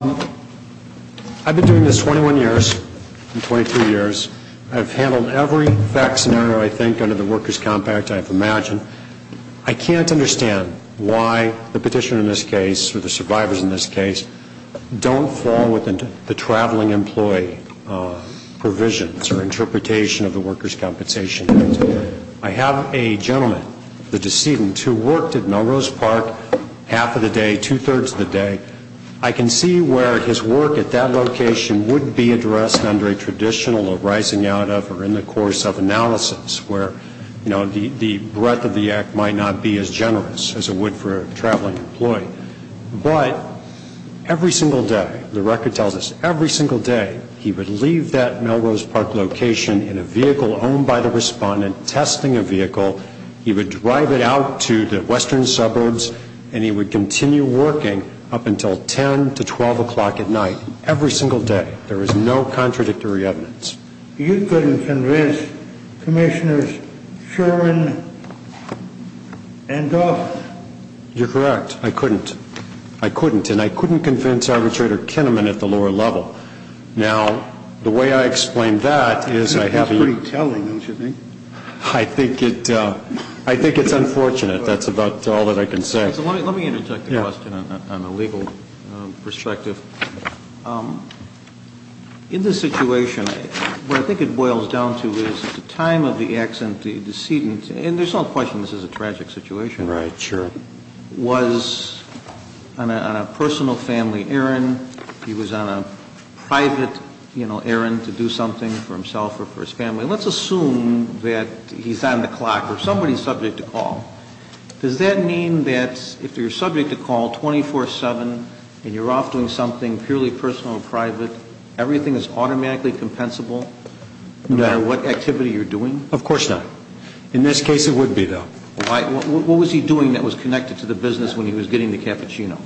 I've been doing this 21 years and 22 years. I've handled every fact scenario, I think, under the Workers' Comp'n Act I've imagined. I can't understand why the petitioner in this case, or the survivors in this case, don't fall within the traveling employee provisions or interpretation of the Workers' Compensation Act. I have a gentleman, the decedent, who worked at Melrose Park half of the day, two-thirds of the day. I can see where his work at that location would be addressed under a traditional arising out of or in the course of analysis, where the breadth of the act might not be as generous as it would for a traveling employee. But, every single day, the record tells us, every single day, he would leave that Melrose Park location in a vehicle owned by the respondent, testing a vehicle. He would drive it out to the western suburbs and he would continue working up until 10 to 12 o'clock at night. Every single day. There was no contradictory evidence. You couldn't convince Commissioners Sherwin and Duff? You're correct. I couldn't. I couldn't. And I couldn't convince Arbitrator Kinnaman at the lower level. Now, the way I explain that is I have the ---- It's pretty telling, don't you think? I think it's unfortunate. That's about all that I can say. Let me interject a question on the legal perspective. In this situation, what I think it boils down to is the time of the accident, the decedent, and there's no question this is a tragic situation. Right, sure. Was on a personal family errand. He was on a private errand to do something for himself or for his family. Let's assume that he's on the clock or somebody's subject to call. Does that mean that if you're subject to call 24-7 and you're off doing something purely personal or private, everything is automatically compensable? No. No matter what activity you're doing? Of course not. In this case, it would be, though. What was he doing that was connected to the business when he was getting the cappuccino?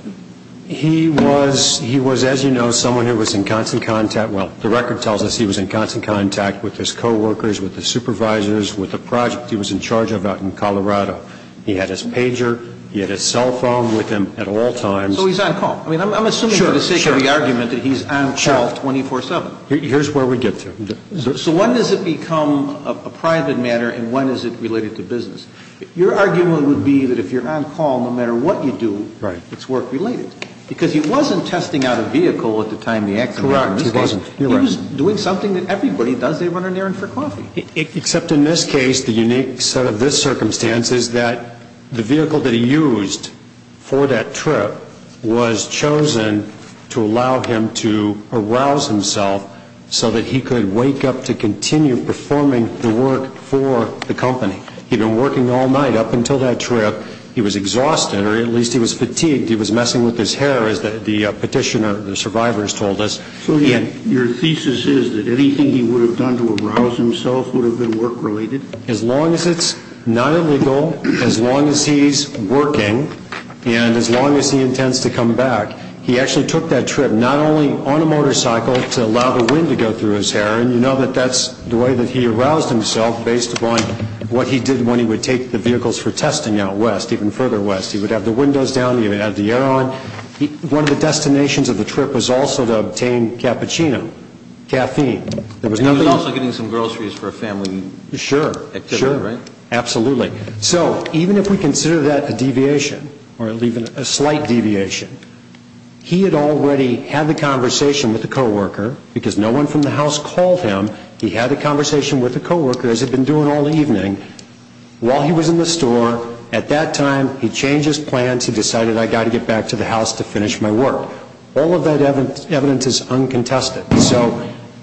He was, as you know, someone who was in constant contact. Well, the record tells us he was in constant contact with his coworkers, with his supervisors, with the project he was in charge of out in Colorado. He had his pager. He had his cell phone with him at all times. So he's on call. I mean, I'm assuming for the sake of the argument that he's on call 24-7. Here's where we get to. So when does it become a private matter and when is it related to business? Your argument would be that if you're on call, no matter what you do, it's work-related. Because he wasn't testing out a vehicle at the time the accident happened. Correct. He wasn't. He was doing something that everybody does. They run an errand for coffee. Except in this case, the unique set of this circumstance is that the vehicle that he used for that trip was chosen to allow him to arouse himself so that he could wake up to continue performing the work for the company. He'd been working all night up until that trip. He was exhausted, or at least he was fatigued. He was messing with his hair, as the petitioner, the survivors told us. So your thesis is that anything he would have done to arouse himself would have been work-related? As long as it's not illegal, as long as he's working, and as long as he intends to come back, he actually took that trip not only on a motorcycle to allow the wind to go through his hair, and you know that that's the way that he aroused himself based upon what he did when he would take the vehicles for testing out west, even further west. He would have the windows down. He would have the air on. One of the destinations of the trip was also to obtain cappuccino, caffeine. And he was also getting some groceries for a family activity, right? Sure, absolutely. So even if we consider that a deviation, or even a slight deviation, he had already had the conversation with the co-worker, because no one from the house called him. He had the conversation with the co-worker, as he'd been doing all evening, while he was in the store. At that time, he changed his plans. He decided, I've got to get back to the house to finish my work. All of that evidence is uncontested. So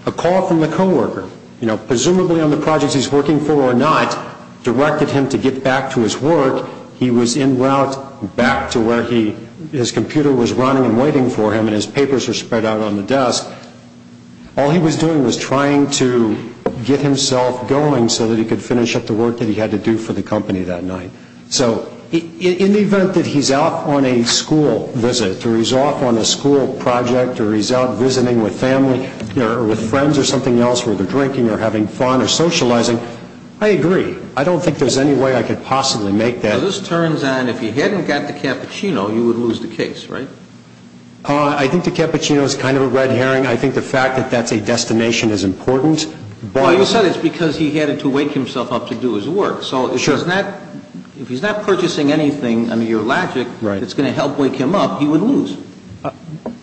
a call from the co-worker, you know, presumably on the projects he's working for or not, directed him to get back to his work. He was en route back to where his computer was running and waiting for him, and his papers were spread out on the desk. All he was doing was trying to get himself going so that he could finish up the work that he had to do for the company that night. So in the event that he's off on a school visit, or he's off on a school project, or he's out visiting with family or with friends or something else, where they're drinking or having fun or socializing, I agree. I don't think there's any way I could possibly make that. This turns out if he hadn't got the cappuccino, you would lose the case, right? I think the cappuccino is kind of a red herring. I think the fact that that's a destination is important. Well, you said it's because he had to wake himself up to do his work. So if he's not purchasing anything under your logic that's going to help wake him up, he would lose.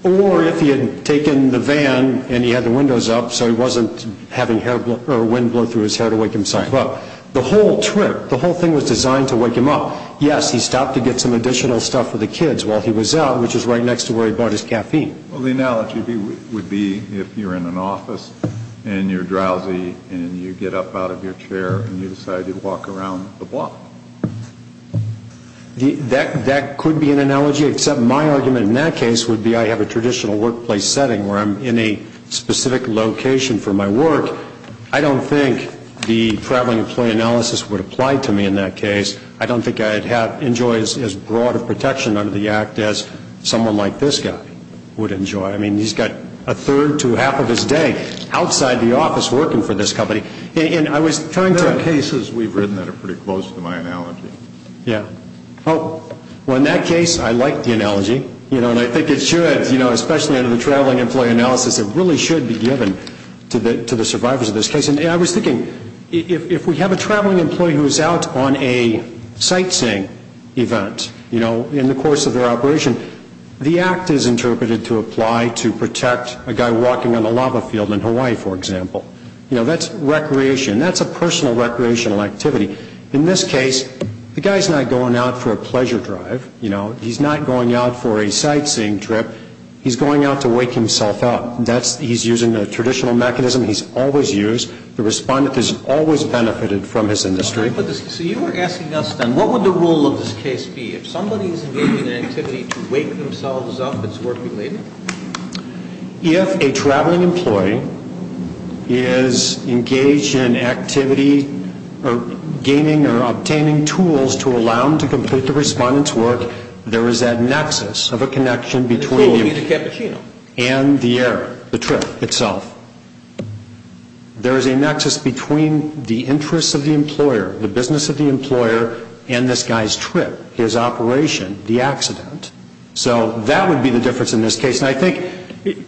Or if he had taken the van and he had the windows up so he wasn't having wind blow through his hair to wake himself up. The whole trip, the whole thing was designed to wake him up. Yes, he stopped to get some additional stuff for the kids while he was out, which is right next to where he bought his caffeine. Well, the analogy would be if you're in an office and you're drowsy and you get up out of your chair and you decide to walk around the block. That could be an analogy, except my argument in that case would be I have a traditional workplace setting where I'm in a specific location for my work. I don't think the traveling employee analysis would apply to me in that case. I don't think I'd enjoy as broad a protection under the act as someone like this guy would enjoy. I mean, he's got a third to half of his day outside the office working for this company. And I was trying to... There are cases we've written that are pretty close to my analogy. Yeah. Well, in that case, I like the analogy, you know, and I think it should, you know, especially under the traveling employee analysis, it really should be given to the survivors of this case. And I was thinking, if we have a traveling employee who is out on a sightseeing event, you know, in the course of their operation, the act is interpreted to apply to protect a guy walking on a lava field in Hawaii, for example. You know, that's recreation. That's a personal recreational activity. In this case, the guy's not going out for a pleasure drive, you know. He's not going out for a sightseeing trip. He's going out to wake himself up. He's using a traditional mechanism he's always used. The respondent has always benefited from his industry. So you were asking us, then, what would the role of this case be? If somebody is engaged in an activity to wake themselves up, it's work-related? If a traveling employee is engaged in an activity or gaining or obtaining tools to allow him to complete the respondent's work, there is that nexus of a connection between you and the error, the trip itself. There is a nexus between the interests of the employer, the business of the employer, and this guy's trip, his operation, the accident. So that would be the difference in this case. And I think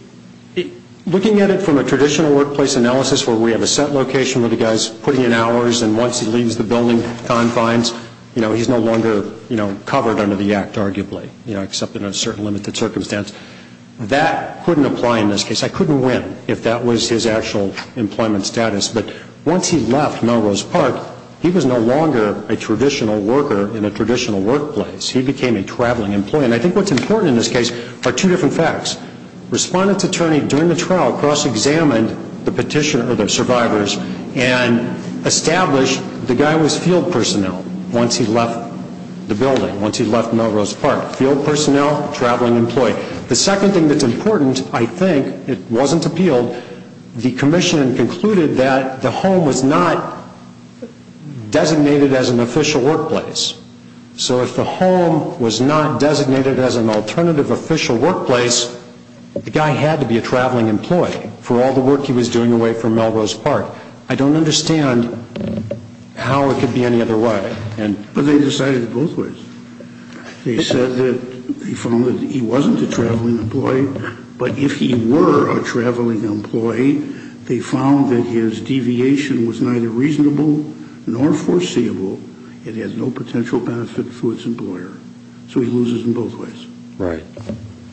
looking at it from a traditional workplace analysis where we have a set location where the guy is putting in hours and once he leaves the building confines, he's no longer covered under the Act, arguably, except in a certain limited circumstance. That couldn't apply in this case. I couldn't win if that was his actual employment status. But once he left Melrose Park, he was no longer a traditional worker in a traditional workplace. He became a traveling employee. And I think what's important in this case are two different facts. Respondent's attorney during the trial cross-examined the petitioner, or the survivors, and established the guy was field personnel once he left the building, once he left Melrose Park. Field personnel, traveling employee. The second thing that's important, I think, it wasn't appealed, the commission concluded that the home was not designated as an official workplace. So if the home was not designated as an alternative official workplace, the guy had to be a traveling employee for all the work he was doing away from Melrose Park. I don't understand how it could be any other way. But they decided it both ways. They said that they found that he wasn't a traveling employee, but if he were a traveling employee, they found that his deviation was neither reasonable nor foreseeable, and had no potential benefit for its employer. So he loses in both ways. Right.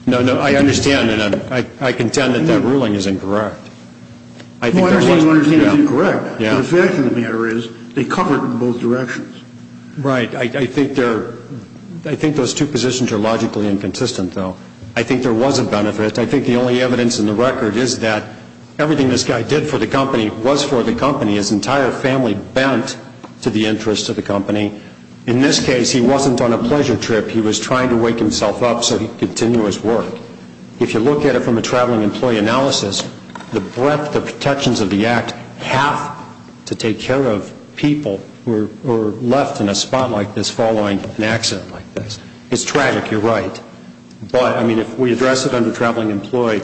No, no, I understand, and I contend that that ruling is incorrect. No, everything you understand is incorrect. The fact of the matter is they covered it in both directions. Right. I think those two positions are logically inconsistent, though. I think there was a benefit. I think the only evidence in the record is that everything this guy did for the company was for the company. His entire family bent to the interest of the company. In this case, he wasn't on a pleasure trip. He was trying to wake himself up so he could continue his work. If you look at it from a traveling employee analysis, the breadth of protections of the act have to take care of people who are left in a spot like this following an accident like this. It's tragic. You're right. But, I mean, if we address it under traveling employee,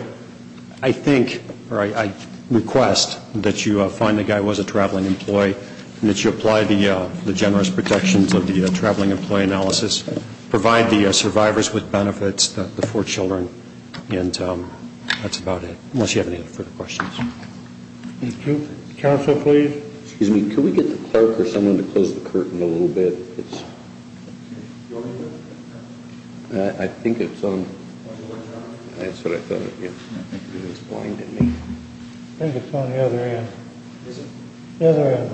I think or I request that you find the guy was a traveling employee and that you apply the generous protections of the traveling employee analysis. Provide the survivors with benefits, the four children, and that's about it, unless you have any further questions. Thank you. Counsel, please. Excuse me. Could we get the clerk or someone to close the curtain a little bit? Do you want me to? I think it's on. That's what I thought. It was blinding me. I think it's on the other end. Is it? The other end.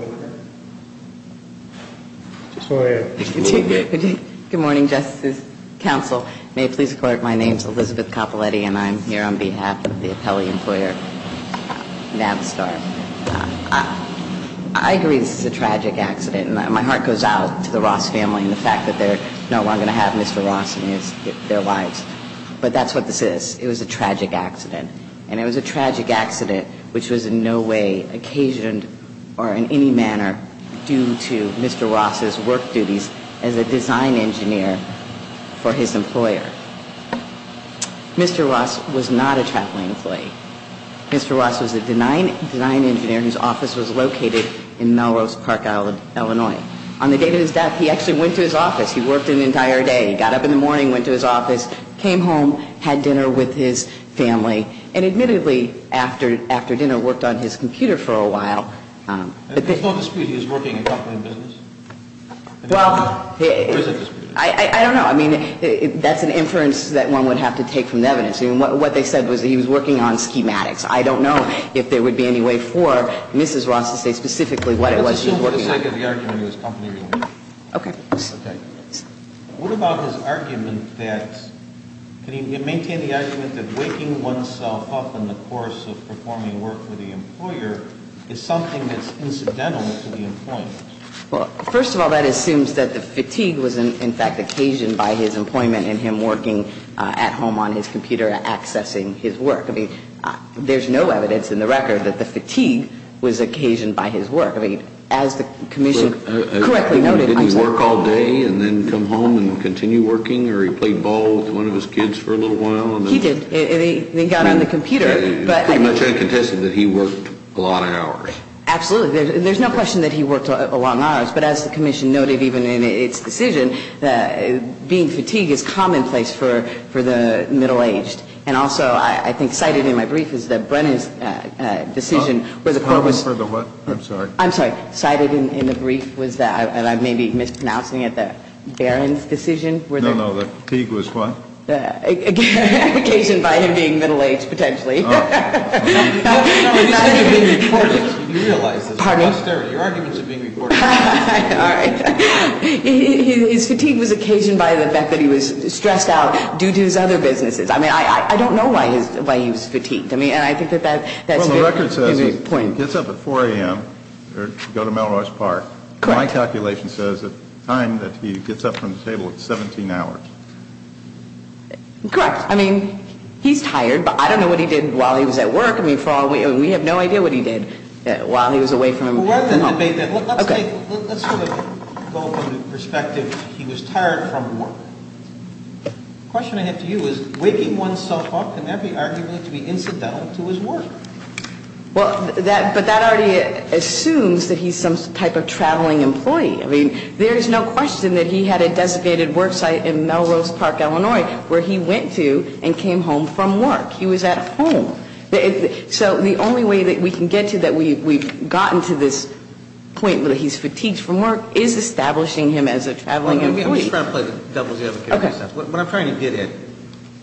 Go ahead. Good morning, Justice. Counsel, may it please the clerk, my name is Elizabeth Coppoletti, and I'm here on behalf of the appellee employer, Navstar. I agree this is a tragic accident. And my heart goes out to the Ross family and the fact that they're no longer going to have Mr. Ross in their lives. But that's what this is. It was a tragic accident. And it was a tragic accident which was in no way occasioned or in any manner due to Mr. Ross's work duties as a design engineer for his employer. Mr. Ross was not a traveling employee. Mr. Ross was a design engineer whose office was located in Melrose Park, Illinois. On the date of his death, he actually went to his office. He worked an entire day. He got up in the morning, went to his office, came home, had dinner with his family. And admittedly, after dinner, worked on his computer for a while. There's no dispute he was working in company business? Well, I don't know. I mean, that's an inference that one would have to take from the evidence. I mean, what they said was that he was working on schematics. I don't know if there would be any way for Mrs. Ross to say specifically what it was she was working on. Let's assume for the sake of the argument it was company business. Okay. Okay. What about his argument that, can you maintain the argument that waking oneself up in the course of performing work for the employer is something that's incidental to the employment? Well, first of all, that assumes that the fatigue was in fact occasioned by his employment and him working at home on his computer accessing his work. I mean, there's no evidence in the record that the fatigue was occasioned by his work. I mean, as the commission correctly noted, I'm sorry. Didn't he work all day and then come home and continue working? Or he played ball with one of his kids for a little while? He did. And he got on the computer. Pretty much I contested that he worked a lot of hours. Absolutely. There's no question that he worked a long hours. But as the commission noted even in its decision, being fatigued is commonplace for the middle-aged. And also I think cited in my brief is that Brennan's decision was a purpose. For the what? I'm sorry. I'm sorry. Cited in the brief was that, and I may be mispronouncing it, the Barron's decision. No, no. The fatigue was what? Occasioned by him being middle-aged potentially. You realize this. Your arguments are being recorded. All right. His fatigue was occasioned by the fact that he was stressed out due to his other businesses. I mean, I don't know why he was fatigued. I mean, and I think that that's very important. Well, the record says he gets up at 4 a.m. to go to Melrose Park. Correct. My calculation says at the time that he gets up from the table it's 17 hours. Correct. I mean, he's tired. I don't know what he did while he was at work. I mean, we have no idea what he did while he was away from home. Let's sort of go from the perspective he was tired from work. The question I have to you is waking one's self up, can that be arguably to be incidental to his work? Well, but that already assumes that he's some type of traveling employee. I mean, there's no question that he had a designated work site in Melrose Park, Illinois, where he went to and came home from work. He was at home. So the only way that we can get to that we've gotten to this point where he's fatigued from work is establishing him as a traveling employee. I'm just trying to play the devil's advocate. Okay. What I'm trying to get at,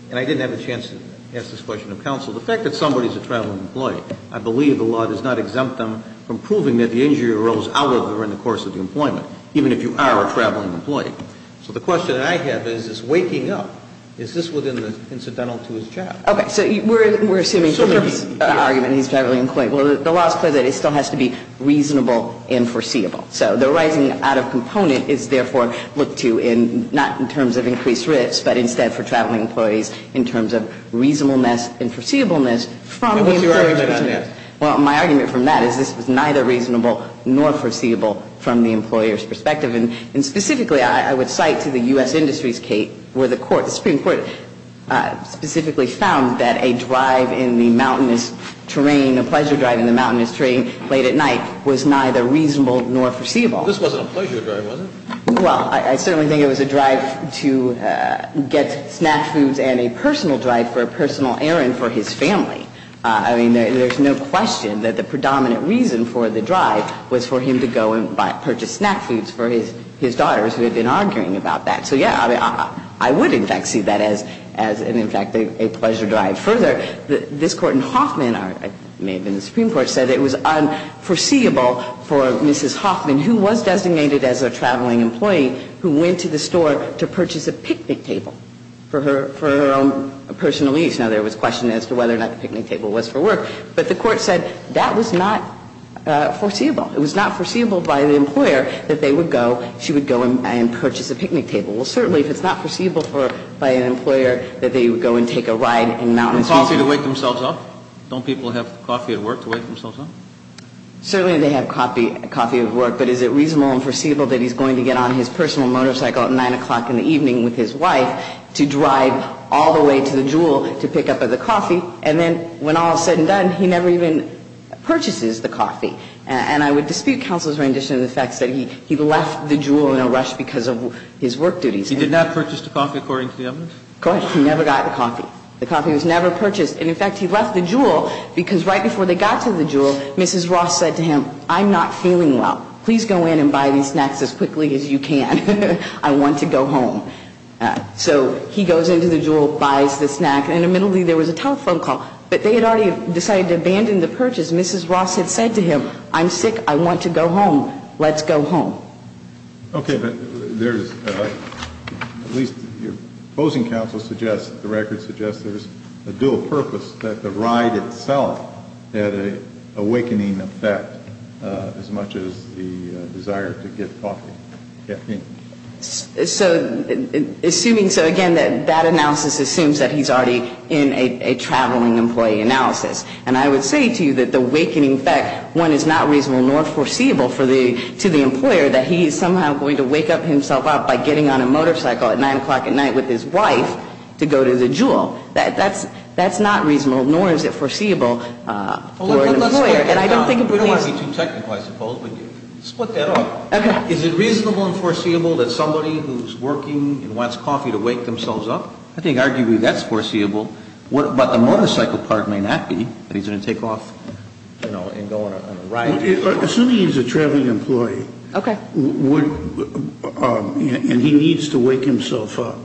and I didn't have a chance to ask this question of counsel, the fact that somebody's a traveling employee, I believe the law does not exempt them from proving that the injury arose out of or in the course of the employment, even if you are a traveling employee. So the question I have is, is waking up, is this within the incidental to his job? Okay. So we're assuming he's a traveling employee. Well, the law is clear that it still has to be reasonable and foreseeable. So the rising out of component is therefore looked to in not in terms of increased risk, but instead for traveling employees in terms of reasonableness and foreseeableness from the employer's perspective. And what's your argument on that? Well, my argument from that is this was neither reasonable nor foreseeable from the employer's perspective. And specifically I would cite to the U.S. Industries, Kate, where the Supreme Court specifically found that a drive in the mountainous terrain, a pleasure drive in the mountainous terrain late at night was neither reasonable nor foreseeable. This wasn't a pleasure drive, was it? Well, I certainly think it was a drive to get snack foods and a personal drive for a personal errand for his family. I mean, there's no question that the predominant reason for the drive was for him to go and purchase snack foods for his daughters who had been arguing about that. So, yeah, I would, in fact, see that as an, in fact, a pleasure drive. Further, this Court in Hoffman, or it may have been the Supreme Court, said it was unforeseeable for Mrs. Hoffman, who was designated as a traveling employee, who went to the store to purchase a picnic table for her own personal use. Now, there was question as to whether or not the picnic table was for work. But the Court said that was not foreseeable. It was not foreseeable by the employer that they would go, she would go and purchase a picnic table. Well, certainly if it's not foreseeable by an employer that they would go and take a ride in mountainous terrain. And coffee to wake themselves up? Don't people have coffee at work to wake themselves up? Certainly they have coffee at work. But is it reasonable and foreseeable that he's going to get on his personal motorcycle at 9 o'clock in the evening with his wife to drive all the way to the Jewel to pick up the coffee? And then when all is said and done, he never even purchases the coffee. And I would dispute counsel's rendition of the fact that he left the Jewel in a rush because of his work duties. He did not purchase the coffee according to the evidence? Correct. He never got the coffee. The coffee was never purchased. And, in fact, he left the Jewel because right before they got to the Jewel, Mrs. Ross said to him, I'm not feeling well. Please go in and buy these snacks as quickly as you can. I want to go home. So he goes into the Jewel, buys the snack, and immediately there was a telephone call. But they had already decided to abandon the purchase. Mrs. Ross had said to him, I'm sick. I want to go home. Let's go home. Okay, but there's at least your opposing counsel suggests, the record suggests there's a dual purpose, that the ride itself had an awakening effect as much as the desire to get coffee. So assuming, so again, that that analysis assumes that he's already in a traveling employee analysis. And I would say to you that the awakening effect, one, is not reasonable nor foreseeable to the employer that he is somehow going to wake up himself up by getting on a motorcycle at 9 o'clock at night with his wife to go to the Jewel. That's not reasonable, nor is it foreseeable for an employer. And I don't think it would be easy. I don't want to be too technical, I suppose, but split that up. Is it reasonable and foreseeable that somebody who's working and wants coffee to wake themselves up? I think arguably that's foreseeable. But the motorcycle part may not be that he's going to take off and go on a ride. Assuming he's a traveling employee and he needs to wake himself up,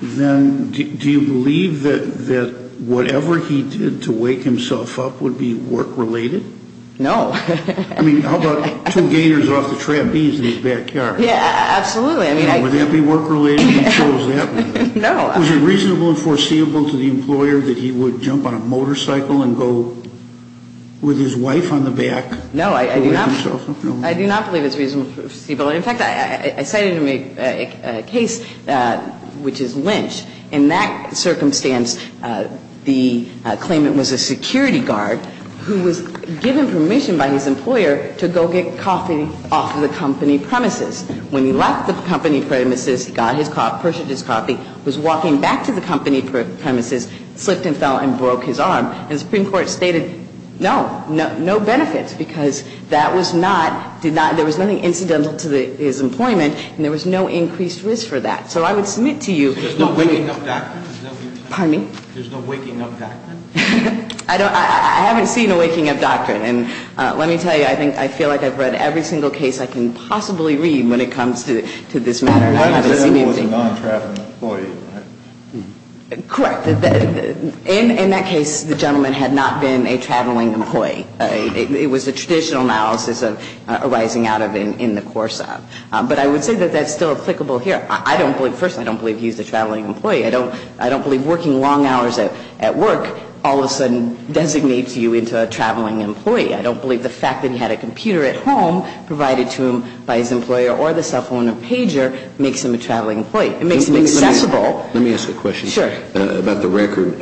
then do you believe that whatever he did to wake himself up would be work-related? No. I mean, how about two gators off the trapeze in his backyard? Yeah, absolutely. Would that be work-related if he chose that? No. Was it reasonable and foreseeable to the employer that he would jump on a motorcycle and go with his wife on the back to wake himself up? No, I do not believe it's reasonable and foreseeable. In fact, I cited in a case which is Lynch. In that circumstance, the claimant was a security guard who was given permission by his employer to go get coffee off of the company premises. When he left the company premises, he got his coffee, purchased his coffee, was walking back to the company premises, slipped and fell and broke his arm. And the Supreme Court stated no, no benefits, because that was not, there was nothing incidental to his employment and there was no increased risk for that. So I would submit to you. There's no waking-up doctrine? Pardon me? There's no waking-up doctrine? I haven't seen a waking-up doctrine. And let me tell you, I think, I feel like I've read every single case I can possibly read when it comes to this matter. I haven't seen anything. The gentleman was a non-traveling employee, right? Correct. In that case, the gentleman had not been a traveling employee. It was a traditional analysis arising out of, in the course of. But I would say that that's still applicable here. I don't believe, first, I don't believe he's a traveling employee. I don't believe the fact that he had a computer at home provided to him by his employer or the cell phone or pager makes him a traveling employee. It makes him accessible. Let me ask a question. Sure. About the record.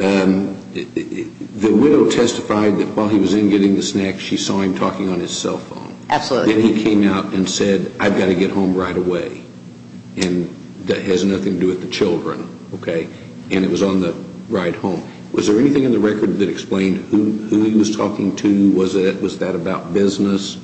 The widow testified that while he was in getting the snacks, she saw him talking on his cell phone. Absolutely. And he came out and said, I've got to get home right away. And that has nothing to do with the children, okay? And it was on the ride home. Was there anything in the record that explained who he was talking to? Was that about business?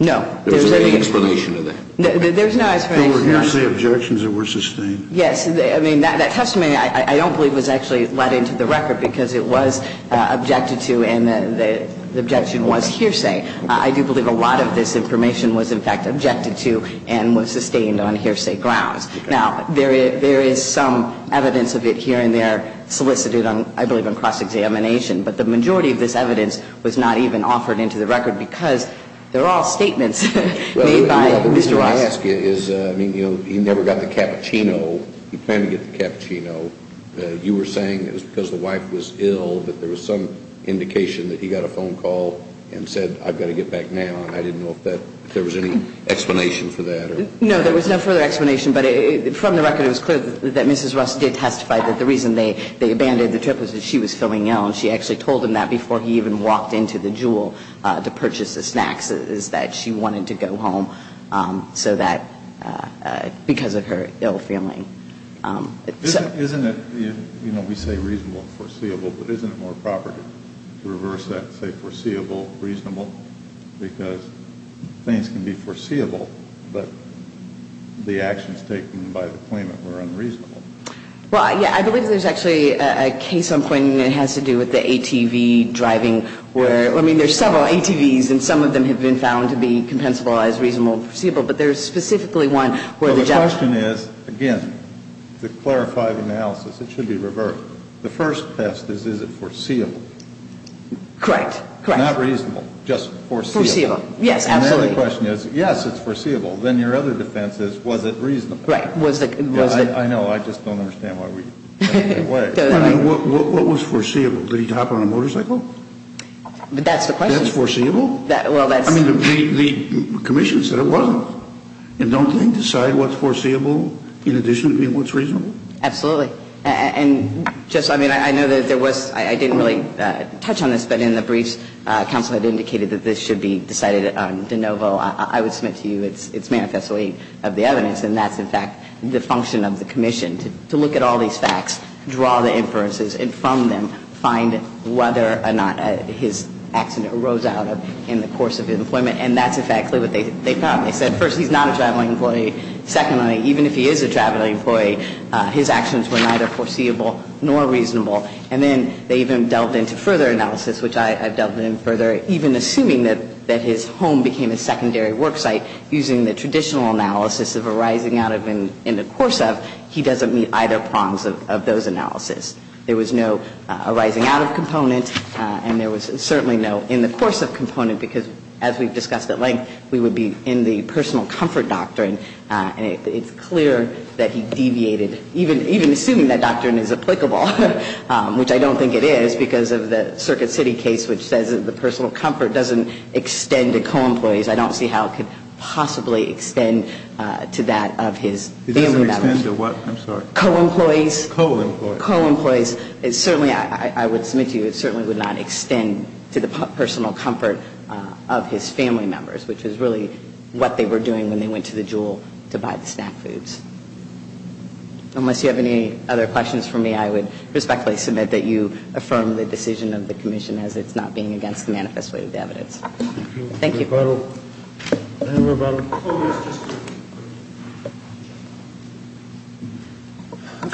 No. There was no explanation to that? There's no explanation. There were hearsay objections that were sustained. Yes. I mean, that testimony I don't believe was actually let into the record because it was objected to and the objection was hearsay. I do believe a lot of this information was, in fact, objected to and was sustained on hearsay grounds. Now, there is some evidence of it here and there solicited, I believe, on cross-examination. But the majority of this evidence was not even offered into the record because they're all statements made by Mr. Ross. Well, the reason I ask you is, I mean, you know, he never got the cappuccino. He planned to get the cappuccino. You were saying it was because the wife was ill, that there was some indication that he got a phone call and said, I've got to get back now, and I didn't know if there was any explanation for that. No, there was no further explanation. But from the record, it was clear that Mrs. Ross did testify that the reason they abandoned the trip was that she was feeling ill. And she actually told him that before he even walked into the Jewel to purchase the snacks, is that she wanted to go home so that, because of her ill feeling. Isn't it, you know, we say reasonable and foreseeable, but isn't it more proper to reverse that the actions taken by the claimant were unreasonable? Well, yeah, I believe there's actually a case I'm pointing that has to do with the ATV driving where, I mean, there's several ATVs and some of them have been found to be compensable as reasonable and foreseeable, but there's specifically one where the judge Well, the question is, again, to clarify the analysis, it should be reversed. The first test is, is it foreseeable? Correct. Not reasonable, just foreseeable. Yes, absolutely. The only question is, yes, it's foreseeable. Then your other defense is, was it reasonable? Right. I know, I just don't understand why we went that way. What was foreseeable? Did he hop on a motorcycle? That's the question. That's foreseeable? Well, that's I mean, the commission said it wasn't. And don't they decide what's foreseeable in addition to being what's reasonable? Absolutely. And just, I mean, I know that there was, I didn't really touch on this, but in the briefs, counsel had indicated that this should be decided de novo. I would submit to you it's manifestly of the evidence, and that's, in fact, the function of the commission, to look at all these facts, draw the inferences, and from them find whether or not his accident arose out of in the course of employment. And that's, in fact, clearly what they found. They said, first, he's not a traveling employee. Secondly, even if he is a traveling employee, his actions were neither foreseeable nor reasonable. And then they even delved into further analysis, which I've delved into further, even assuming that his home became a secondary work site, using the traditional analysis of arising out of in the course of, he doesn't meet either prongs of those analyses. There was no arising out of component, and there was certainly no in the course of component, because, as we've discussed at length, we would be in the personal comfort doctrine, and it's clear that he deviated, even assuming that doctrine is applicable. Which I don't think it is, because of the Circuit City case, which says that the personal comfort doesn't extend to co-employees. I don't see how it could possibly extend to that of his family members. It doesn't extend to what? I'm sorry. Co-employees. Co-employees. Co-employees. It certainly, I would submit to you, it certainly would not extend to the personal comfort of his family members, which is really what they were doing when they went to the Jewel to buy the snack foods. Unless you have any other questions for me, I would respectfully submit that you affirm the decision of the Commission as it's not being against the manifest way of the evidence. Thank you.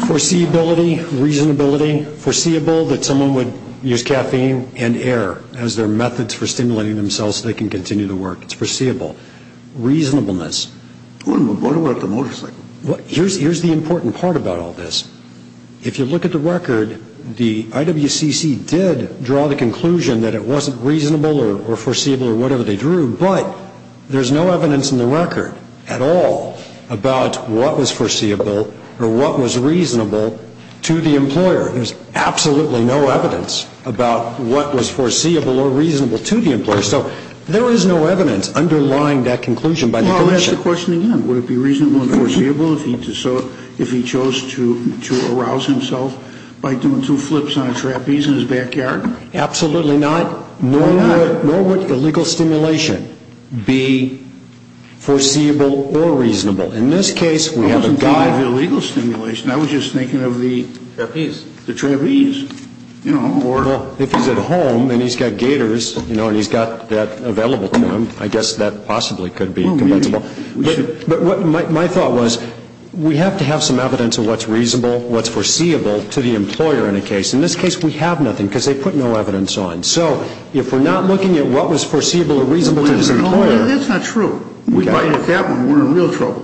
Foreseeability. Reasonability. Foreseeable that someone would use caffeine and air as their methods for stimulating themselves so they can continue to work. It's foreseeable. Reasonableness. What about the motorcycle? Here's the important part about all this. If you look at the record, the IWCC did draw the conclusion that it wasn't reasonable or foreseeable or whatever they drew, but there's no evidence in the record at all about what was foreseeable or what was reasonable to the employer. There's absolutely no evidence about what was foreseeable or reasonable to the employer. So there is no evidence underlying that conclusion by the Commission. I'll ask the question again. Would it be reasonable and foreseeable if he chose to arouse himself by doing two flips on a trapeze in his backyard? Absolutely not. Why not? Nor would illegal stimulation be foreseeable or reasonable. In this case, we have a guy. I wasn't thinking of illegal stimulation. I was just thinking of the trapeze. Well, if he's at home and he's got gators and he's got that available to him, I guess that possibly could be convinceable. But my thought was we have to have some evidence of what's reasonable, what's foreseeable to the employer in a case. In this case, we have nothing because they put no evidence on. So if we're not looking at what was foreseeable or reasonable to this employer. That's not true. If we look at that one, we're in real trouble.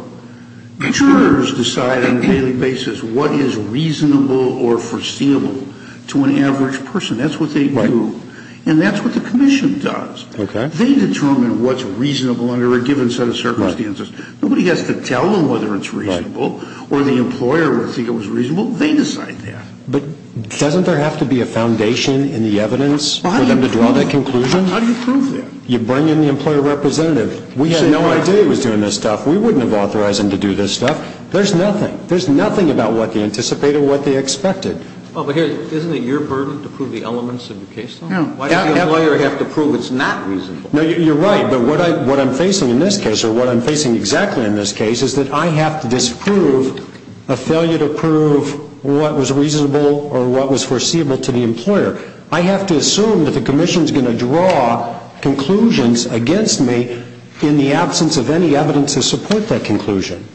Jurors decide on a daily basis what is reasonable or foreseeable to an average person. That's what they do. And that's what the Commission does. They determine what's reasonable under a given set of circumstances. Nobody has to tell them whether it's reasonable or the employer would think it was reasonable. They decide that. But doesn't there have to be a foundation in the evidence for them to draw that conclusion? How do you prove that? You bring in the employer representative. We had no idea he was doing this stuff. We wouldn't have authorized him to do this stuff. There's nothing. There's nothing about what they anticipated or what they expected. Well, but here, isn't it your burden to prove the elements of the case? Yeah. Why does the employer have to prove it's not reasonable? No, you're right. But what I'm facing in this case, or what I'm facing exactly in this case, is that I have to disprove a failure to prove what was reasonable or what was foreseeable to the employer. I have to assume that the Commission is going to draw conclusions against me in the absence of any evidence to support that conclusion.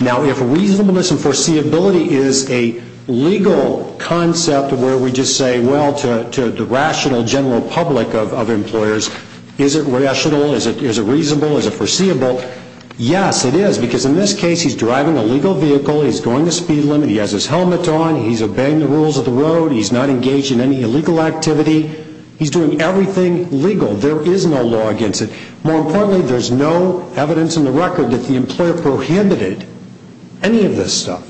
Now, if reasonableness and foreseeability is a legal concept where we just say, well, to the rational general public of employers, is it rational? Is it reasonable? Is it foreseeable? Yes, it is. Because in this case, he's driving a legal vehicle. He's going to speed limit. He has his helmet on. He's obeying the rules of the road. He's not engaged in any illegal activity. He's doing everything legal. There is no law against it. More importantly, there's no evidence in the record that the employer prohibited any of this stuff.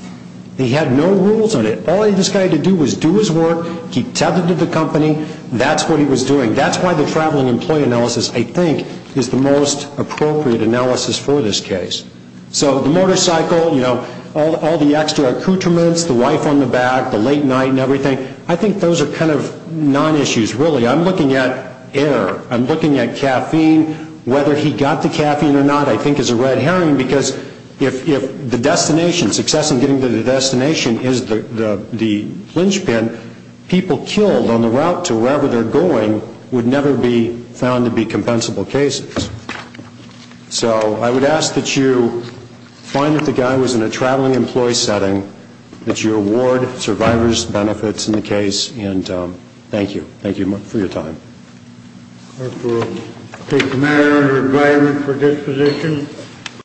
He had no rules on it. All this guy had to do was do his work, keep tethered to the company. That's what he was doing. That's why the traveling employee analysis, I think, is the most appropriate analysis for this case. So the motorcycle, you know, all the extra accoutrements, the wife on the back, the late night and everything, I think those are kind of non-issues, really. I'm looking at air. I'm looking at caffeine. Whether he got the caffeine or not, I think, is a red herring, because if the destination, success in getting to the destination is the linchpin, people killed on the route to wherever they're going would never be found to be compensable cases. So I would ask that you find that the guy was in a traveling employee setting, that you award survivors benefits in the case, and thank you. Thank you for your time. The clerk will take the matter under advisement for disposition.